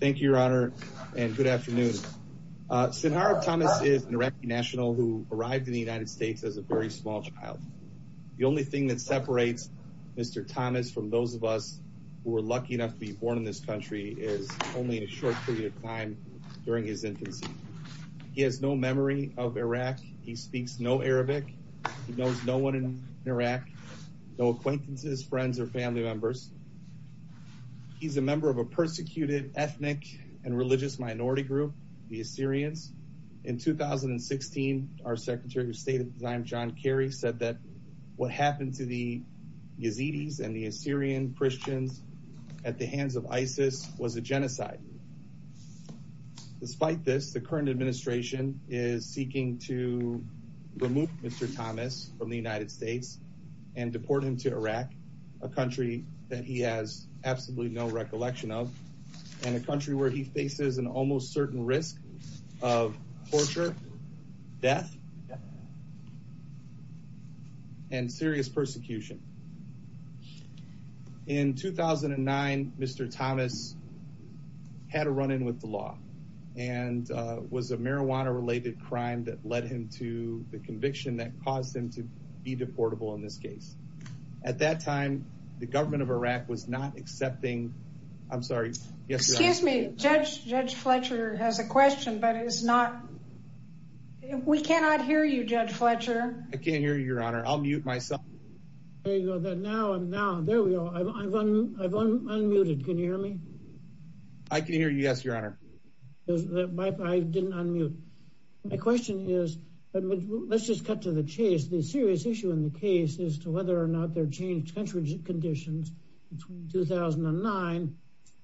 Thank you, Your Honor, and good afternoon. Sinharib Thomas is an Iraqi national who arrived in the United States as a very small child. The only thing that separates Mr. Thomas from those of us who were lucky enough to be born in this country is only a short period of time during his infancy. He has no memory of Iraq. He speaks no Arabic. He knows no one in Iraq, no acquaintances, friends, or family members. He's a member of a persecuted ethnic and religious minority group, the Assyrians. In 2016, our Secretary of State at the time, John Kerry, said that what happened to the Yazidis and the Assyrian Christians at the hands of ISIS was a genocide. Despite this, the current administration is seeking to remove Mr. Thomas from the United States and deport him to Iraq, a country that he has absolutely no recollection of, and a country where he faces an almost certain risk of torture, death, and serious persecution. In 2009, Mr. Thomas had a run-in with the law and was a marijuana-related crime that led him to the conviction that caused him to be deportable in this case. At that time, the government of Iraq was not accepting... I'm sorry. Yes, Your Honor. Excuse me. Judge Fletcher has a question, but is not... We cannot hear you, Judge Fletcher. I can't hear you, Your Honor. I'll mute myself. There you go. Now, there we go. I've unmuted. Can you hear me? I can hear you, yes, Your Honor. I didn't unmute. My question is... Let's just cut to the chase. The serious issue in the case is to whether or not there are changed country conditions between 2009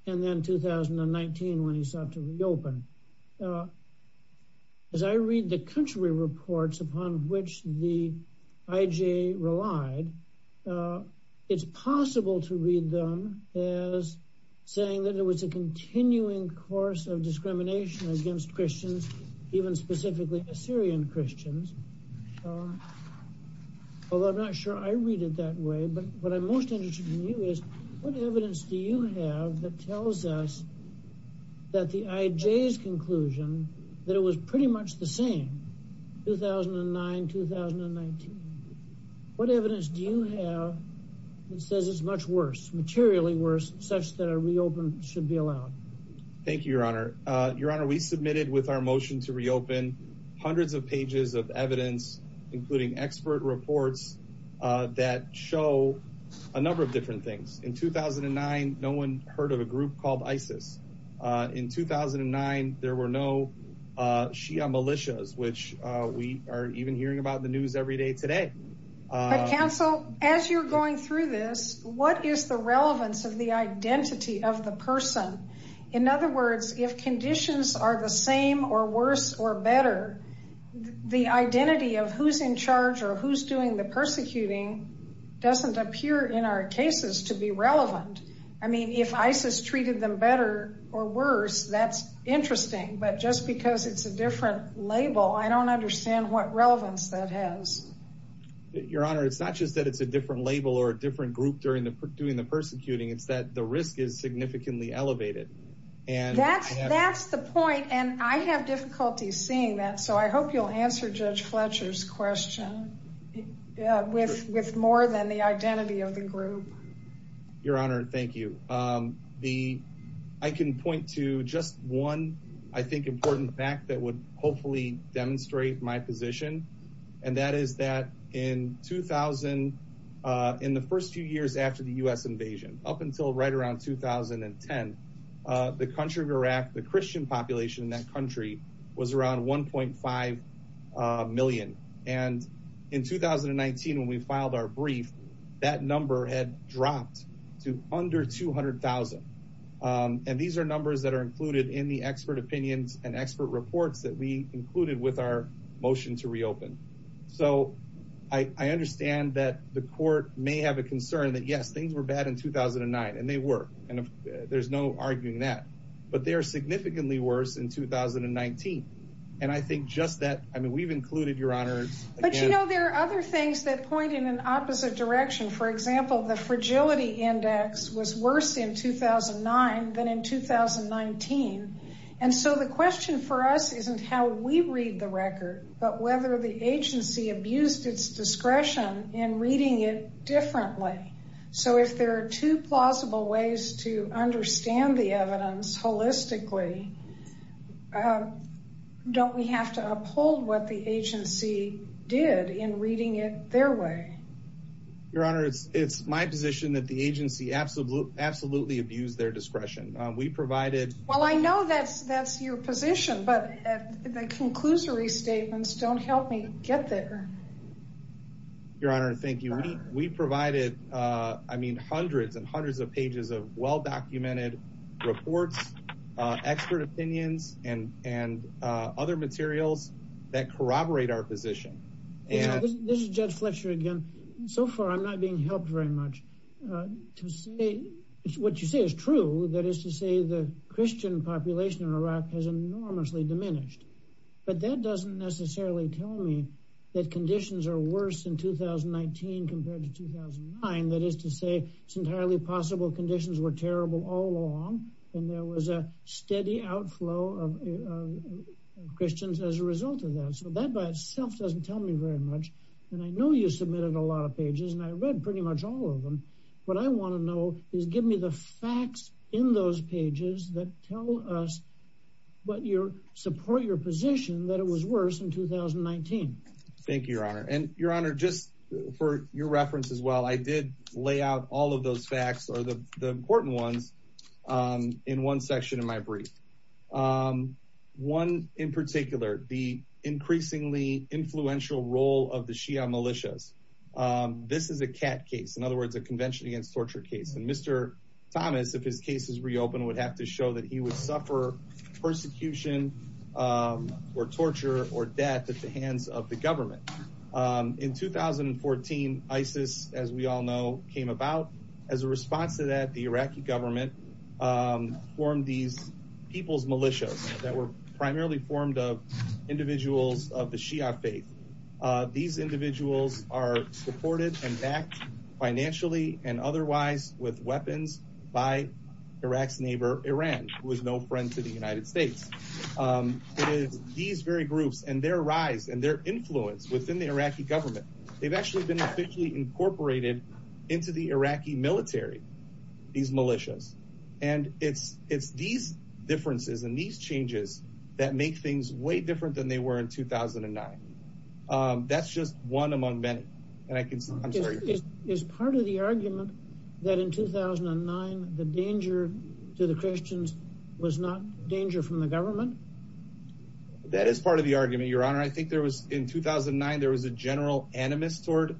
and then 2019 when he sought to reopen. As I read the country reports upon which the IJ relied, it's possible to read them as saying that there was a continuing course of discrimination against Christians, even specifically Assyrian Christians. Although I'm not sure I read it that way, but what I'm most interested in you is what evidence do you have that tells us that the IJ's conclusion, that it was pretty much the same 2009-2019? What evidence do you have that says it's much worse, materially worse, such that a reopen should be allowed? Thank you, Your Honor. Your Honor, we submitted with our motion to reopen hundreds of pages of evidence, including expert reports that show a number of different things. In 2009, no one heard of a group called ISIS. In 2009, there were no Shia militias, which we are even hearing about in the news every day today. But counsel, as you're going through this, what is the relevance of the identity of the person? In other words, if conditions are the same or worse or better, the identity of who's in charge or who's doing the persecuting doesn't appear in our cases to be relevant. I mean, if ISIS treated them better or worse, that's interesting. But just because it's a different label, I don't understand what relevance that has. Your Honor, it's not just that it's a different label or a different group doing the persecuting. It's that the risk is significantly elevated. That's the point, and I have difficulty seeing that. So I hope you'll answer Judge Fletcher's question with more than the identity of the group. Your Honor, thank you. I can point to just one, I think, important fact that would hopefully demonstrate my position, and that is that in the first few years after the U.S. invasion, up until right around 2010, the country of Iraq, the Christian population in that country, was around 1.5 million. And in 2019, when we filed our brief, that number had dropped to under 200,000. And these are numbers that are included in the expert opinions and expert reports that we included with our motion to reopen. So I understand that the court may have a concern that, yes, things were bad in 2009, and they were, and there's no arguing that, but they are significantly worse in 2019. And I think just that, I mean, we've included, Your Honor. But, you know, there are other things that point in an opposite direction. For example, the fragility index was worse in 2009 than in 2019. And so the question for us isn't how we read the record, but whether the agency abused its discretion in reading it differently. So if there are two plausible ways to understand the evidence holistically, don't we have to uphold what the agency did in reading it their way? Your Honor, it's my position that the agency absolutely abused their discretion. We provided... Well, I know that's your position, but the conclusory statements don't help me get there. Your Honor, thank you. We provided, I mean, hundreds and hundreds of pages of well-documented reports, expert opinions, and other materials that corroborate our position. This is Judge Fletcher again. So far, I'm not being helped very much. To say what you say is true, that is to say the Christian population in Iraq has enormously diminished. But that doesn't necessarily tell me that conditions are worse in 2019 compared to 2009. That is to say, it's entirely possible conditions were terrible all along, and there was a steady outflow of Christians as a result of that. So that by itself doesn't tell me very much. And I know you submitted a lot of pages, and I read pretty much all of them. What I want to know is give me the facts in those pages that tell us what your... support your position that it was worse in 2019. Thank you, Your Honor. And, Your Honor, just for your reference as well, I did lay out all of those facts or the important ones in one section of my brief. One in particular, the increasingly influential role of the Shia militias. This is a cat case, in other words, a convention against torture case. And Mr. Thomas, if his case is reopened, would have to show that he would suffer persecution or torture or death at the hands of the government. In 2014, ISIS, as we all know, came about. As a response to that, the Iraqi government formed these people's militias that were primarily formed of individuals of the Shia faith. These individuals are supported and backed financially and otherwise with weapons by Iraq's neighbor, Iran, who is no friend to the United States. It is these very groups and their rise and their influence within the Iraqi government. They've actually been officially incorporated into the Iraqi military, these militias. And it's these differences and these changes that make things way different than they were in 2009. That's just one among many. Is part of the argument that in 2009, the danger to the Christians was not danger from the government? That is part of the argument, Your Honor. I think there was in 2009, there was a general animus toward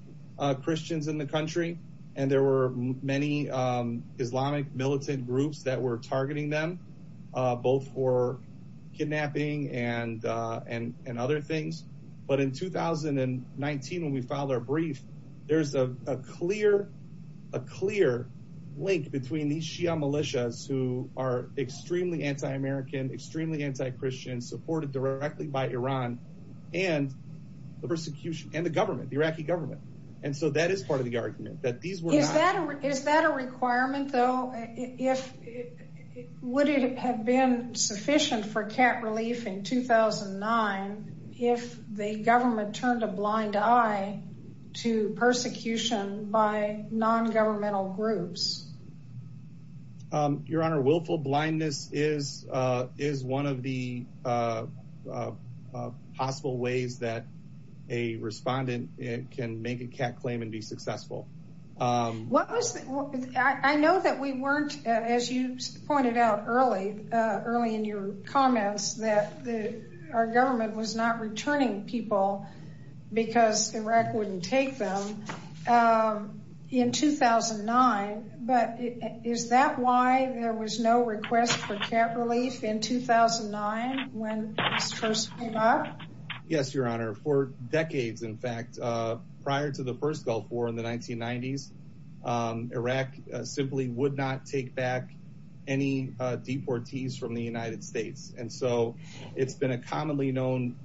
Christians in the country. And there were many Islamic militant groups that were targeting them, both for kidnapping and other things. But in 2019, when we filed our brief, there's a clear link between these Shia militias who are extremely anti-American, extremely anti-Christian, supported directly by Iran and the government, the Iraqi government. And so that is part of the argument. Is that a requirement, though? Would it have been sufficient for cat relief in 2009 if the government turned a blind eye to persecution by non-governmental groups? Your Honor, willful blindness is one of the possible ways that a respondent can make a cat claim and be successful. I know that we weren't, as you pointed out early in your comments, that our government was not returning people because Iraq wouldn't take them in 2009. But is that why there was no request for cat relief in 2009 when this first came up? Yes, Your Honor. For decades, in fact, prior to the first Gulf War in the 1990s, Iraq simply would not take back any deportees from the United States. And so it's been a commonly known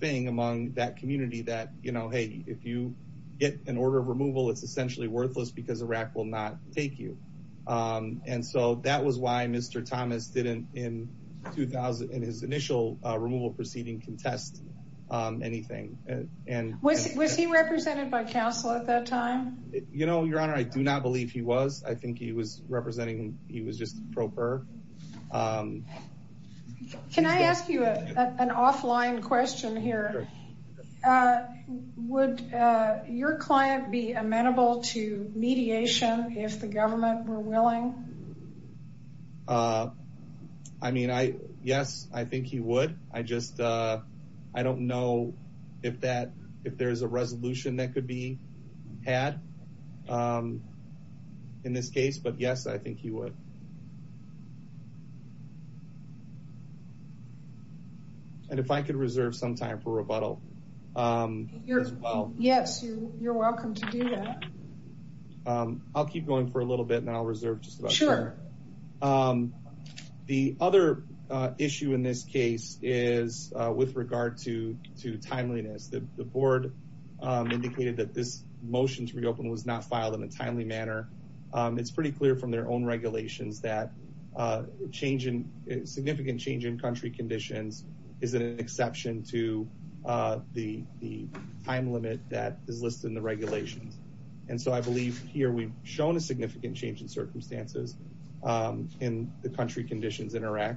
thing among that community that, you know, hey, if you get an order of removal, it's essentially worthless because Iraq will not take you. And so that was why Mr. Thomas didn't, in his initial removal proceeding, contest anything. Was he represented by counsel at that time? You know, Your Honor, I do not believe he was. I think he was representing, he was just a properer. Can I ask you an offline question here? Would your client be amenable to mediation if the government were willing? I mean, yes, I think he would. I just, I don't know if there's a resolution that could be had in this case, but yes, I think he would. And if I could reserve some time for rebuttal as well. Yes, you're welcome to do that. I'll keep going for a little bit and I'll reserve just about sure. The other issue in this case is with regard to to timeliness. The board indicated that this motion to reopen was not filed in a timely manner. It's pretty clear from their own regulations that significant change in country conditions is an exception to the time limit that is listed in the regulations. And so I believe here we've shown a significant change in circumstances in the country conditions in Iraq.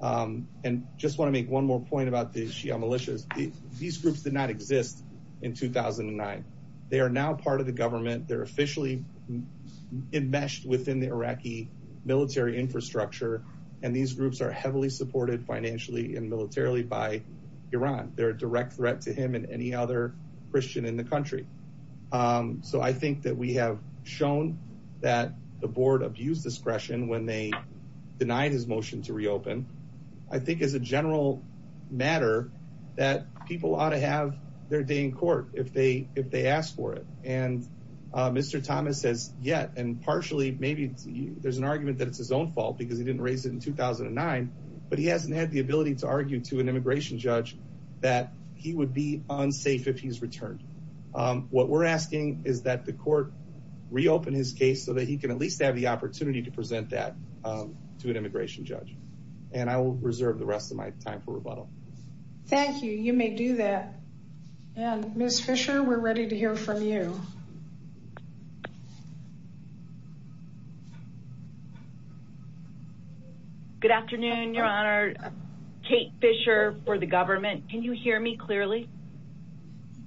And just want to make one more point about the Shia militias. These groups did not exist in 2009. They are now part of the government. They're officially enmeshed within the Iraqi military infrastructure. And these groups are heavily supported financially and militarily by Iran. They're a direct threat to him and any other Christian in the country. So I think that we have shown that the board abused discretion when they denied his motion to reopen. I think as a general matter that people ought to have their day in court if they ask for it. And Mr. Thomas says yet and partially maybe there's an argument that it's his own fault because he didn't raise it in 2009. But he hasn't had the ability to argue to an immigration judge that he would be unsafe if he's returned. What we're asking is that the court reopen his case so that he can at least have the opportunity to present that to an immigration judge. And I will reserve the rest of my time for rebuttal. Thank you. You may do that. And Miss Fisher, we're ready to hear from you. Good afternoon, Your Honor. Kate Fisher for the government. Can you hear me clearly?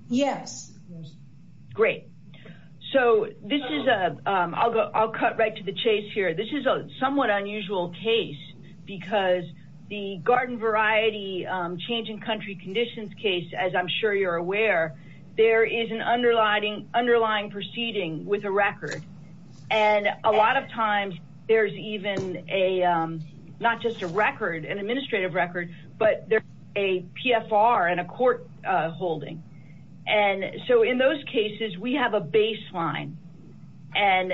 Yes. Great. So this is a I'll go. I'll cut right to the chase here. This is a somewhat unusual case because the garden variety changing country conditions case, as I'm sure you're aware, there is an underlying underlying proceeding with a record. And a lot of times there's even a not just a record, an administrative record, but there's a PFR and a court holding. And so in those cases, we have a baseline. And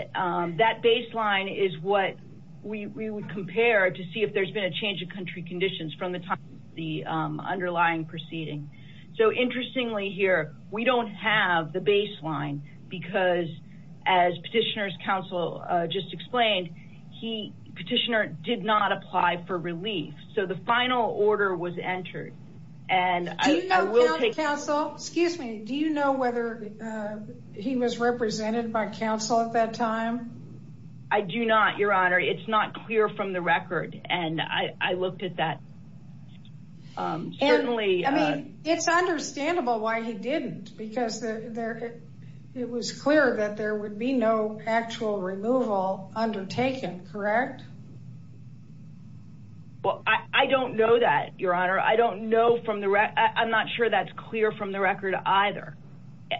that baseline is what we would compare to see if there's been a change of country conditions from the time the underlying proceeding. So interestingly here, we don't have the baseline because as petitioners counsel just explained, he petitioner did not apply for relief. So the final order was entered. And I will take counsel. Excuse me. Do you know whether he was represented by counsel at that time? I do not. Your Honor. It's not clear from the record. And I looked at that. Certainly. I mean, it's understandable why he didn't, because it was clear that there would be no actual removal undertaken. Correct. Well, I don't know that, Your Honor. I don't know from the I'm not sure that's clear from the record either.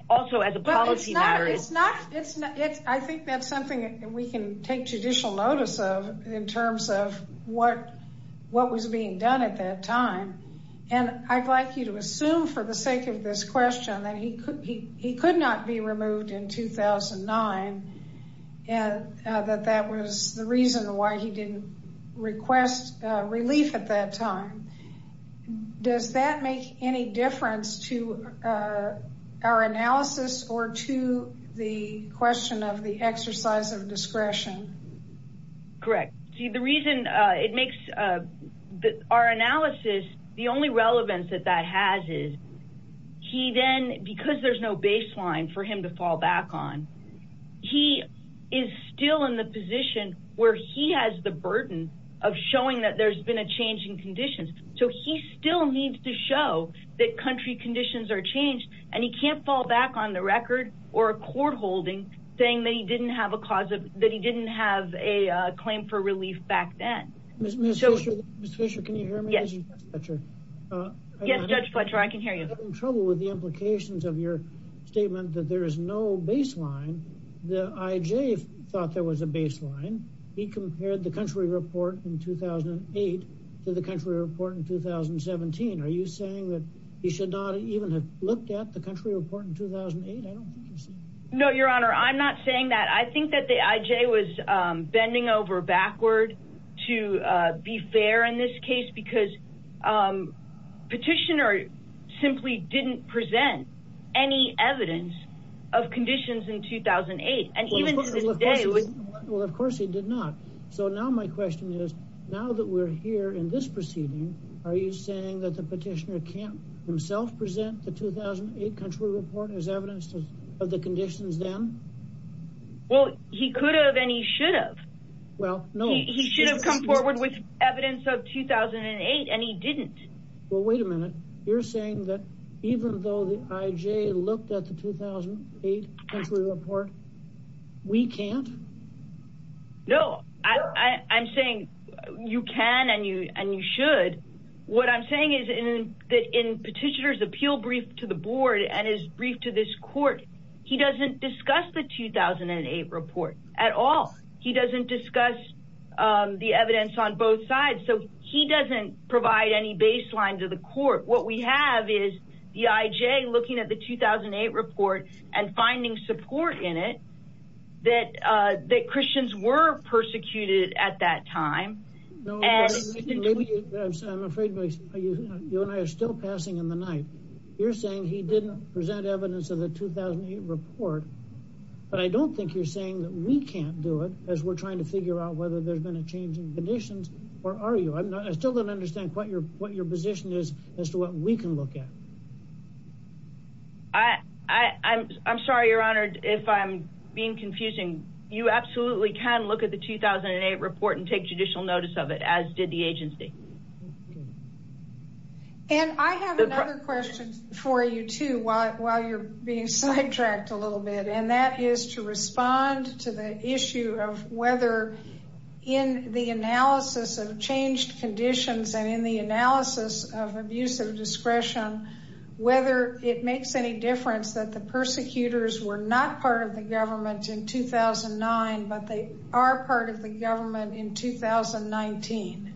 Also, as a policy matter, it's not. I think that's something we can take judicial notice of in terms of what what was being done at that time. And I'd like you to assume for the sake of this question that he could he could not be removed in 2009 and that that was the reason why he didn't request relief at that time. Does that make any difference to our analysis or to the question of the exercise of discretion? Correct. See, the reason it makes our analysis, the only relevance that that has is he then because there's no baseline for him to fall back on. He is still in the position where he has the burden of showing that there's been a change in conditions. So he still needs to show that country conditions are changed and he can't fall back on the record or a court holding thing that he didn't have a cause of that. He didn't have a claim for relief back then. So, can you hear me? Yes. Yes, Judge Fletcher, I can hear you in trouble with the implications of your statement that there is no baseline. The IJ thought there was a baseline. He compared the country report in 2008 to the country report in 2017. Are you saying that he should not even have looked at the country report in 2008? No, Your Honor, I'm not saying that. I think that the IJ was bending over backward to be fair in this case because Petitioner simply didn't present any evidence of conditions in 2008. And even to this day. Well, of course he did not. So now my question is, now that we're here in this proceeding, are you saying that the Petitioner can't himself present the 2008 country report as evidence of the conditions then? Well, he could have and he should have. Well, no. He should have come forward with evidence of 2008 and he didn't. Well, wait a minute. You're saying that even though the IJ looked at the 2008 country report, we can't? No, I'm saying you can and you should. What I'm saying is that in Petitioner's appeal brief to the board and his brief to this court, he doesn't discuss the 2008 report at all. He doesn't discuss the evidence on both sides. So he doesn't provide any baseline to the court. What we have is the IJ looking at the 2008 report and finding support in it that Christians were persecuted at that time. I'm afraid you and I are still passing in the night. You're saying he didn't present evidence of the 2008 report. But I don't think you're saying that we can't do it as we're trying to figure out whether there's been a change in conditions or are you? I still don't understand what your what your position is as to what we can look at. I'm sorry, Your Honor, if I'm being confusing. You absolutely can look at the 2008 report and take judicial notice of it, as did the agency. And I have another question for you, too, while you're being sidetracked a little bit. And that is to respond to the issue of whether in the analysis of changed conditions and in the analysis of abuse of discretion, whether it makes any difference that the persecutors were not part of the government in 2009, but they are part of the government in 2019.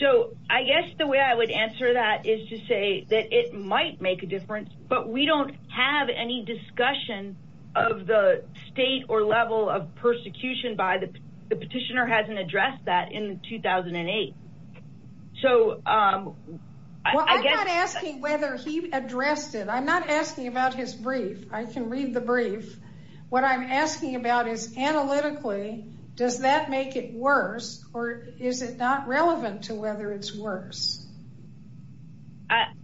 So I guess the way I would answer that is to say that it might make a difference, but we don't have any discussion of the state or level of persecution by the petitioner hasn't addressed that in 2008. So I guess I'm asking whether he addressed it. I'm not asking about his brief. I can read the brief. What I'm asking about is analytically, does that make it worse or is it not relevant to whether it's worse?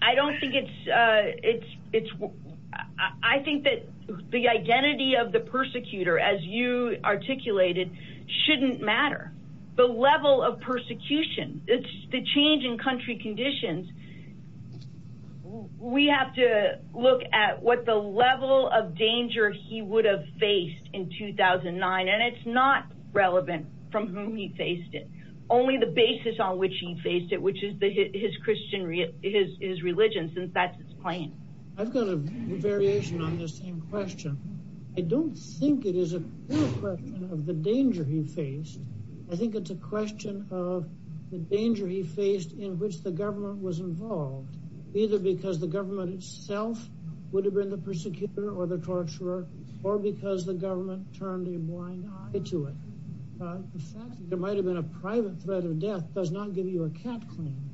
I don't think it's it's it's I think that the identity of the persecutor, as you articulated, shouldn't matter. The level of persecution, the change in country conditions. We have to look at what the level of danger he would have faced in 2009. And it's not relevant from whom he faced it. Only the basis on which he faced it, which is his Christian, his religion, since that's his claim. I don't think it is a question of the danger he faced. I think it's a question of the danger he faced in which the government was involved, either because the government itself would have been the persecutor or the torturer or because the government turned a blind eye to it. The fact that there might have been a private threat of death does not give you a cap claim.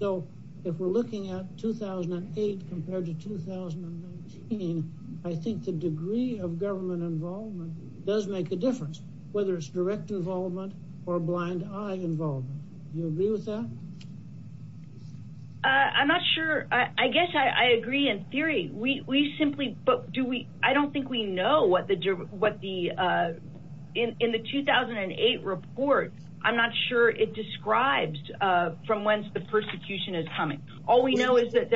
So if we're looking at 2008 compared to 2019, I think the degree of government involvement does make a difference, whether it's direct involvement or blind eye involvement. You agree with that? I'm not sure. I guess I agree in theory. But I don't think we know what the... In the 2008 report, I'm not sure it describes from whence the persecution is coming. All we know is that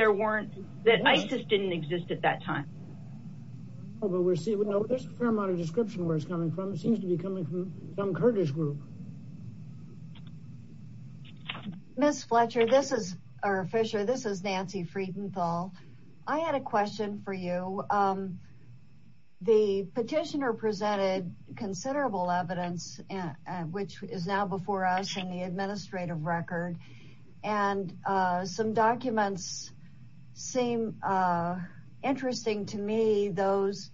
ISIS didn't exist at that time. There's a fair amount of description where it's coming from. It seems to be coming from some Kurdish group. Ms. Fisher, this is Nancy Friedenthal. I had a question for you. The petitioner presented considerable evidence, which is now before us in the administrative record. Some documents seem interesting to me. Those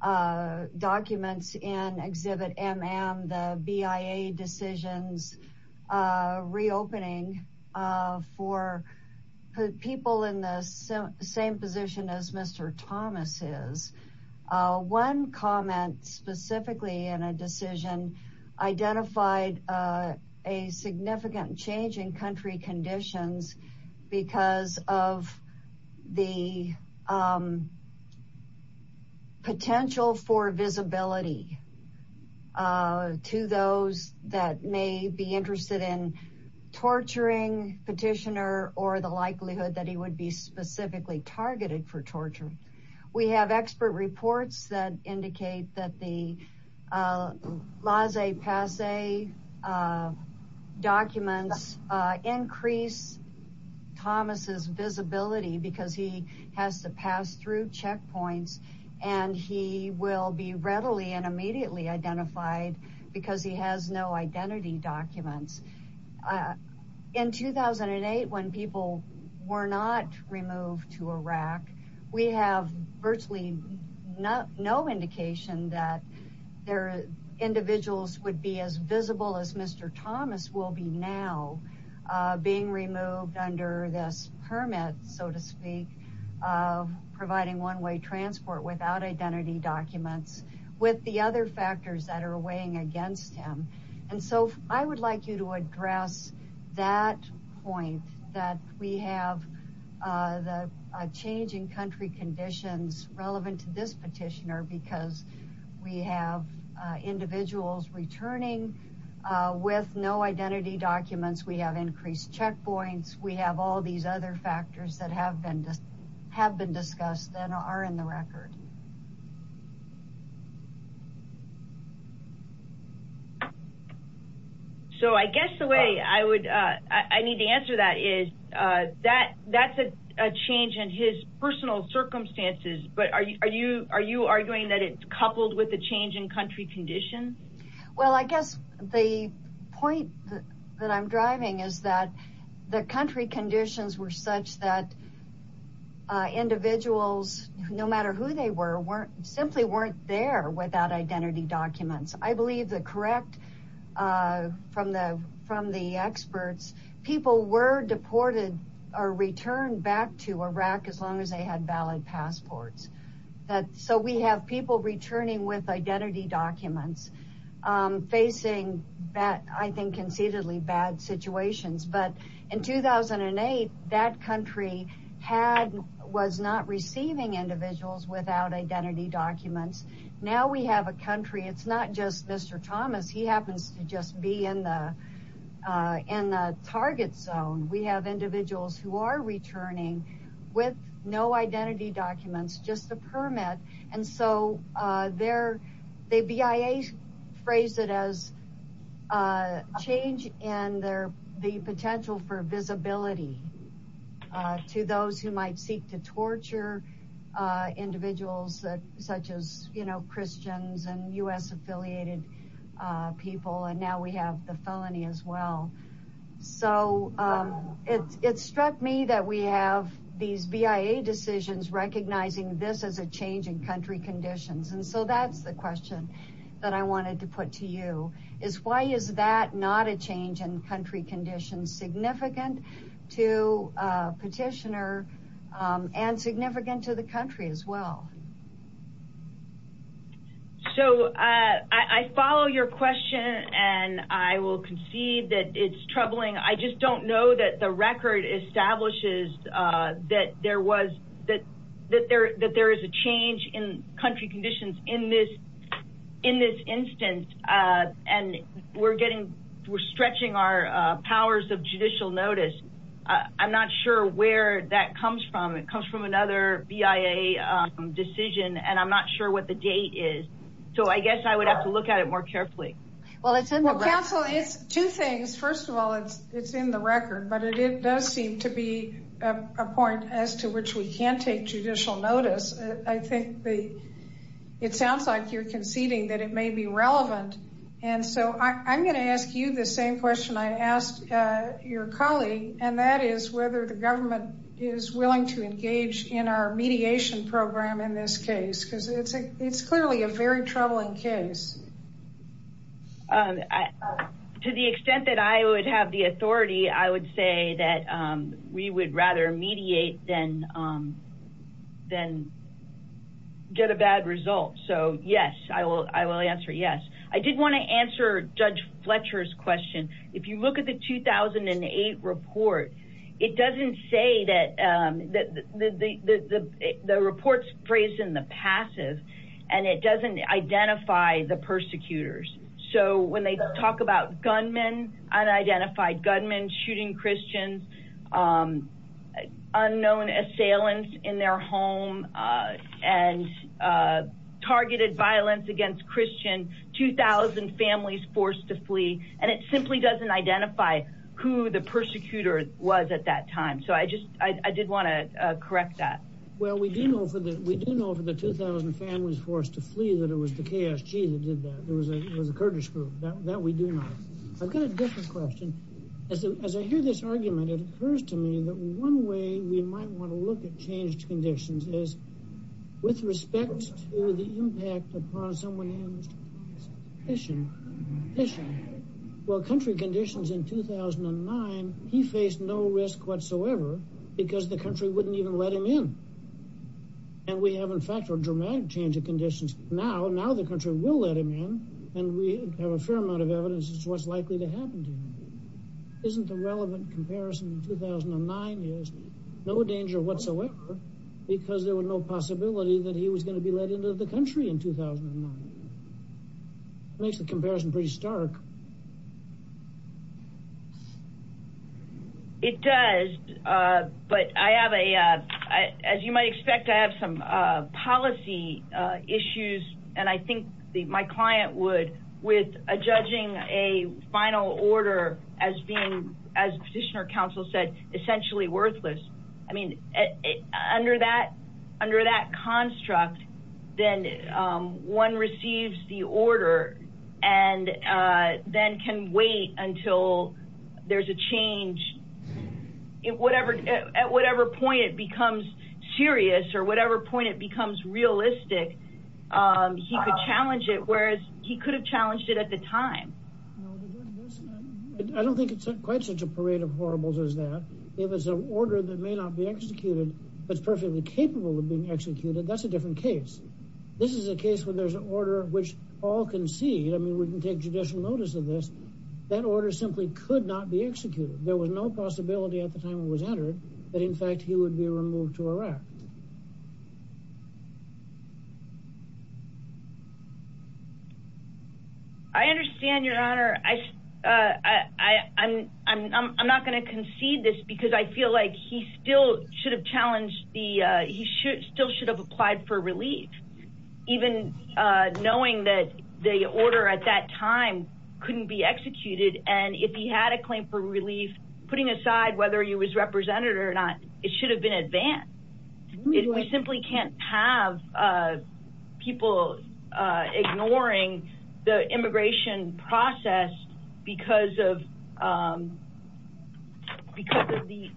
documents in Exhibit MM, the BIA decisions reopening for people in the same position as Mr. Thomas is. One comment specifically in a decision identified a significant change in country conditions because of the potential for visibility to those that may be interested in torturing petitioner or the likelihood that he would be specifically targeted for torture. We have expert reports that indicate that the laissez-passer documents increase Thomas's visibility because he has to pass through checkpoints and he will be readily and immediately identified because he has no identity documents. In 2008, when people were not removed to Iraq, we have virtually no indication that their individuals would be as visible as Mr. Thomas will be now being removed under this permit, so to speak, of providing one-way transport without identity documents with the other factors that are weighing against him. I would like you to address that point that we have the changing country conditions relevant to this petitioner because we have individuals returning with no identity documents, we have increased checkpoints, we have all these other factors that have been discussed that are in the record. So I guess the way I need to answer that is that's a change in his personal circumstances, but are you arguing that it's coupled with the change in country conditions? Well, I guess the point that I'm driving is that the country conditions were such that individuals, no matter who they were, simply weren't there without identity documents. I believe the correct, from the experts, people were deported or returned back to Iraq as long as they had valid passports. So we have people returning with identity documents facing, I think, concededly bad situations, but in 2008, that country was not receiving individuals without identity documents. Now we have a country, it's not just Mr. Thomas, he happens to just be in the target zone. We have individuals who are returning with no identity documents, just a permit, and so the BIA phrased it as a change in the potential for visibility to those who might seek to torture individuals such as Christians and U.S. affiliated people, and now we have the felony as well. It struck me that we have these BIA decisions recognizing this as a change in country conditions, and so that's the question that I wanted to put to you, is why is that not a change in country conditions significant to a petitioner and significant to the country as well? So I follow your question, and I will concede that it's troubling. I just don't know that the record establishes that there was, that there is a change in country conditions in this instance, and we're getting, we're stretching our powers of judicial notice. I'm not sure where that comes from. It comes from another BIA decision, and I'm not sure what the date is, so I guess I would have to look at it more carefully. Well, counsel, it's two things. First of all, it's in the record, but it does seem to be a point as to which we can't take judicial notice. I think it sounds like you're conceding that it may be relevant, and so I'm going to ask you the same question I asked your colleague, and that is whether the government is willing to engage in our mediation program in this case, because it's clearly a very troubling case. To the extent that I would have the authority, I would say that we would rather mediate than get a bad result, so yes, I will answer yes. I did want to answer Judge Fletcher's question. If you look at the 2008 report, it doesn't say that, the report's phrased in the passive, and it doesn't identify the persecutors. So when they talk about gunmen, unidentified gunmen shooting Christians, unknown assailants in their home, and targeted violence against Christians, 2,000 families forced to flee, and it simply doesn't identify who the persecutor was at that time, so I did want to correct that. Well, we do know for the 2,000 families forced to flee that it was the KSG that did that. It was a Kurdish group. That we do know. I've got a different question. As I hear this argument, it occurs to me that one way we might want to look at changed conditions is, with respect to the impact upon someone's condition, well, country conditions in 2009, he faced no risk whatsoever, because the country wouldn't even let him in. And we have, in fact, a dramatic change of conditions now. Now the country will let him in, and we have a fair amount of evidence as to what's likely to happen to him. Isn't the relevant comparison in 2009 is, no danger whatsoever, because there was no possibility that he was going to be let into the country in 2009. Makes the comparison pretty stark. It does, but I have a, as you might expect, I have some policy issues, and I think my client would, with judging a final order as being, as Petitioner Counsel said, essentially worthless, I mean, under that construct, then one receives the order, and then can wait until there's a change. At whatever point it becomes serious, or whatever point it becomes realistic, he could challenge it, whereas he could have challenged it at the time. I don't think it's quite such a parade of horribles as that. If it's an order that may not be executed, but is perfectly capable of being executed, that's a different case. This is a case where there's an order which all concede, I mean, we can take judicial notice of this, that order simply could not be executed. There was no possibility at the time it was entered that, in fact, he would be removed to Iraq. I understand, Your Honor. I'm not going to concede this, because I feel like he still should have applied for relief, even knowing that the order at that time couldn't be executed, and if he had a claim for relief, putting aside whether he was represented or not, it should have been advanced. We simply can't have people ignoring the immigration process because of the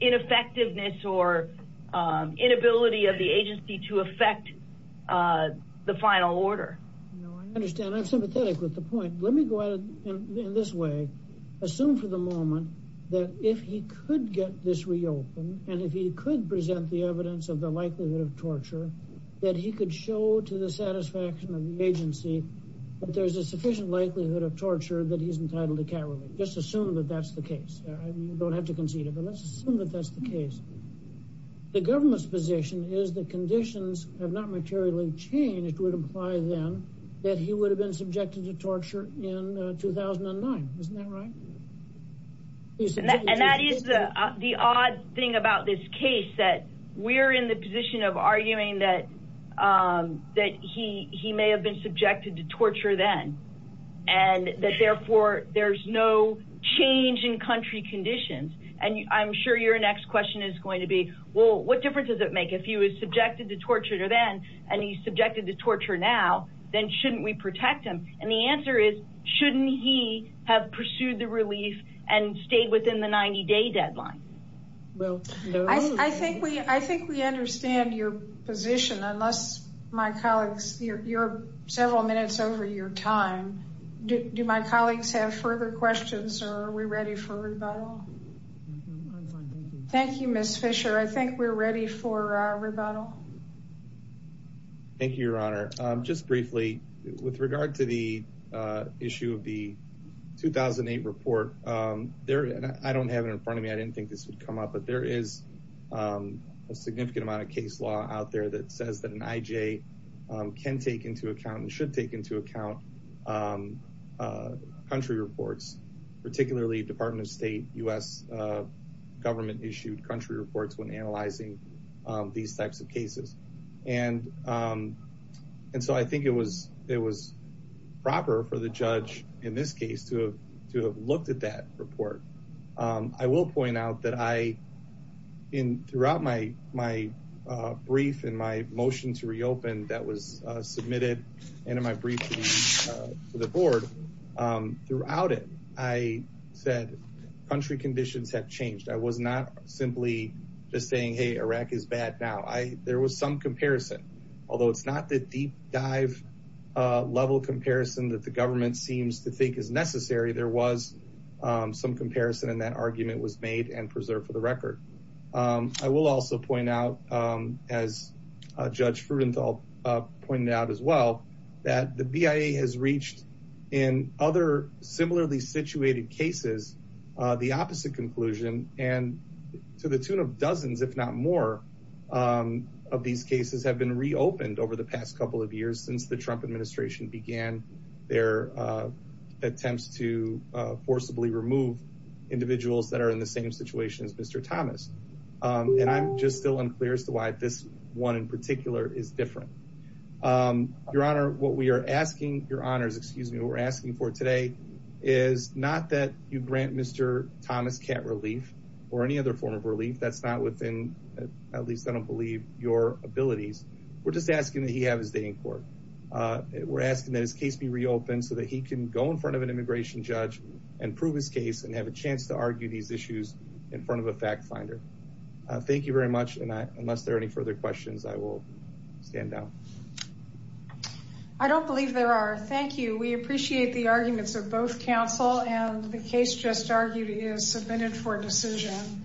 ineffectiveness or inability of the agency to effect the final order. I understand. I'm sympathetic with the point. Let me go at it in this way. Assume for the moment that if he could get this reopened, and if he could present the evidence of the likelihood of torture, that he could show to the satisfaction of the agency that there's a sufficient likelihood of torture that he's entitled to carry relief. Just assume that that's the case. You don't have to concede it, but let's assume that that's the case. The government's position is that conditions have not materially changed, which would imply, then, that he would have been subjected to torture in 2009. Isn't that right? And that is the odd thing about this case, that we're in the position of arguing that he may have been subjected to torture then, and that, therefore, there's no change in country conditions. And I'm sure your next question is going to be, well, what difference does it make if he was subjected to torture then, and he's subjected to torture now, then shouldn't we protect him? And the answer is, shouldn't he have pursued the relief and stayed within the 90-day deadline? I think we understand your position, unless my colleagues, you're several minutes over your time. Do my colleagues have further questions, or are we ready for a rebuttal? Thank you, Ms. Fisher. I think we're ready for a rebuttal. Thank you, Your Honor. Just briefly, with regard to the issue of the 2008 report, I don't have it in front of me. I didn't think this would come up. But there is a significant amount of case law out there that says that an IJ can take into account and should take into account country reports, particularly Department of State, U.S. government-issued country reports when analyzing these types of cases. And so I think it was proper for the judge, in this case, to have looked at that report. I will point out that throughout my brief and my motion to reopen that was submitted and in my brief to the board, throughout it, I said country conditions have changed. I was not simply just saying, hey, Iraq is bad now. There was some comparison. Although it's not the deep dive level comparison that the government seems to think is necessary, there was some comparison and that argument was made and preserved for the record. I will also point out, as Judge Fruedenthal pointed out as well, that the BIA has reached in other similarly situated cases the opposite conclusion and to the tune of dozens, if not more, of these cases have been reopened over the past couple of years since the Trump administration began their attempts to forcibly remove individuals that are in the same situation as Mr. Thomas. And I'm just still unclear as to why this one in particular is different. Your Honor, what we are asking for today is not that you grant Mr. Thomas cat relief or any other form of relief that's not within, at least I don't believe, your abilities. We're just asking that he have his day in court. We're asking that his case be reopened so that he can go in front of an immigration judge and prove his case and have a chance to argue these issues in front of a fact finder. Thank you very much and unless there are any further questions, I will stand down. I don't believe there are. Thank you. We appreciate the arguments of both counsel and the case just argued is submitted for decision.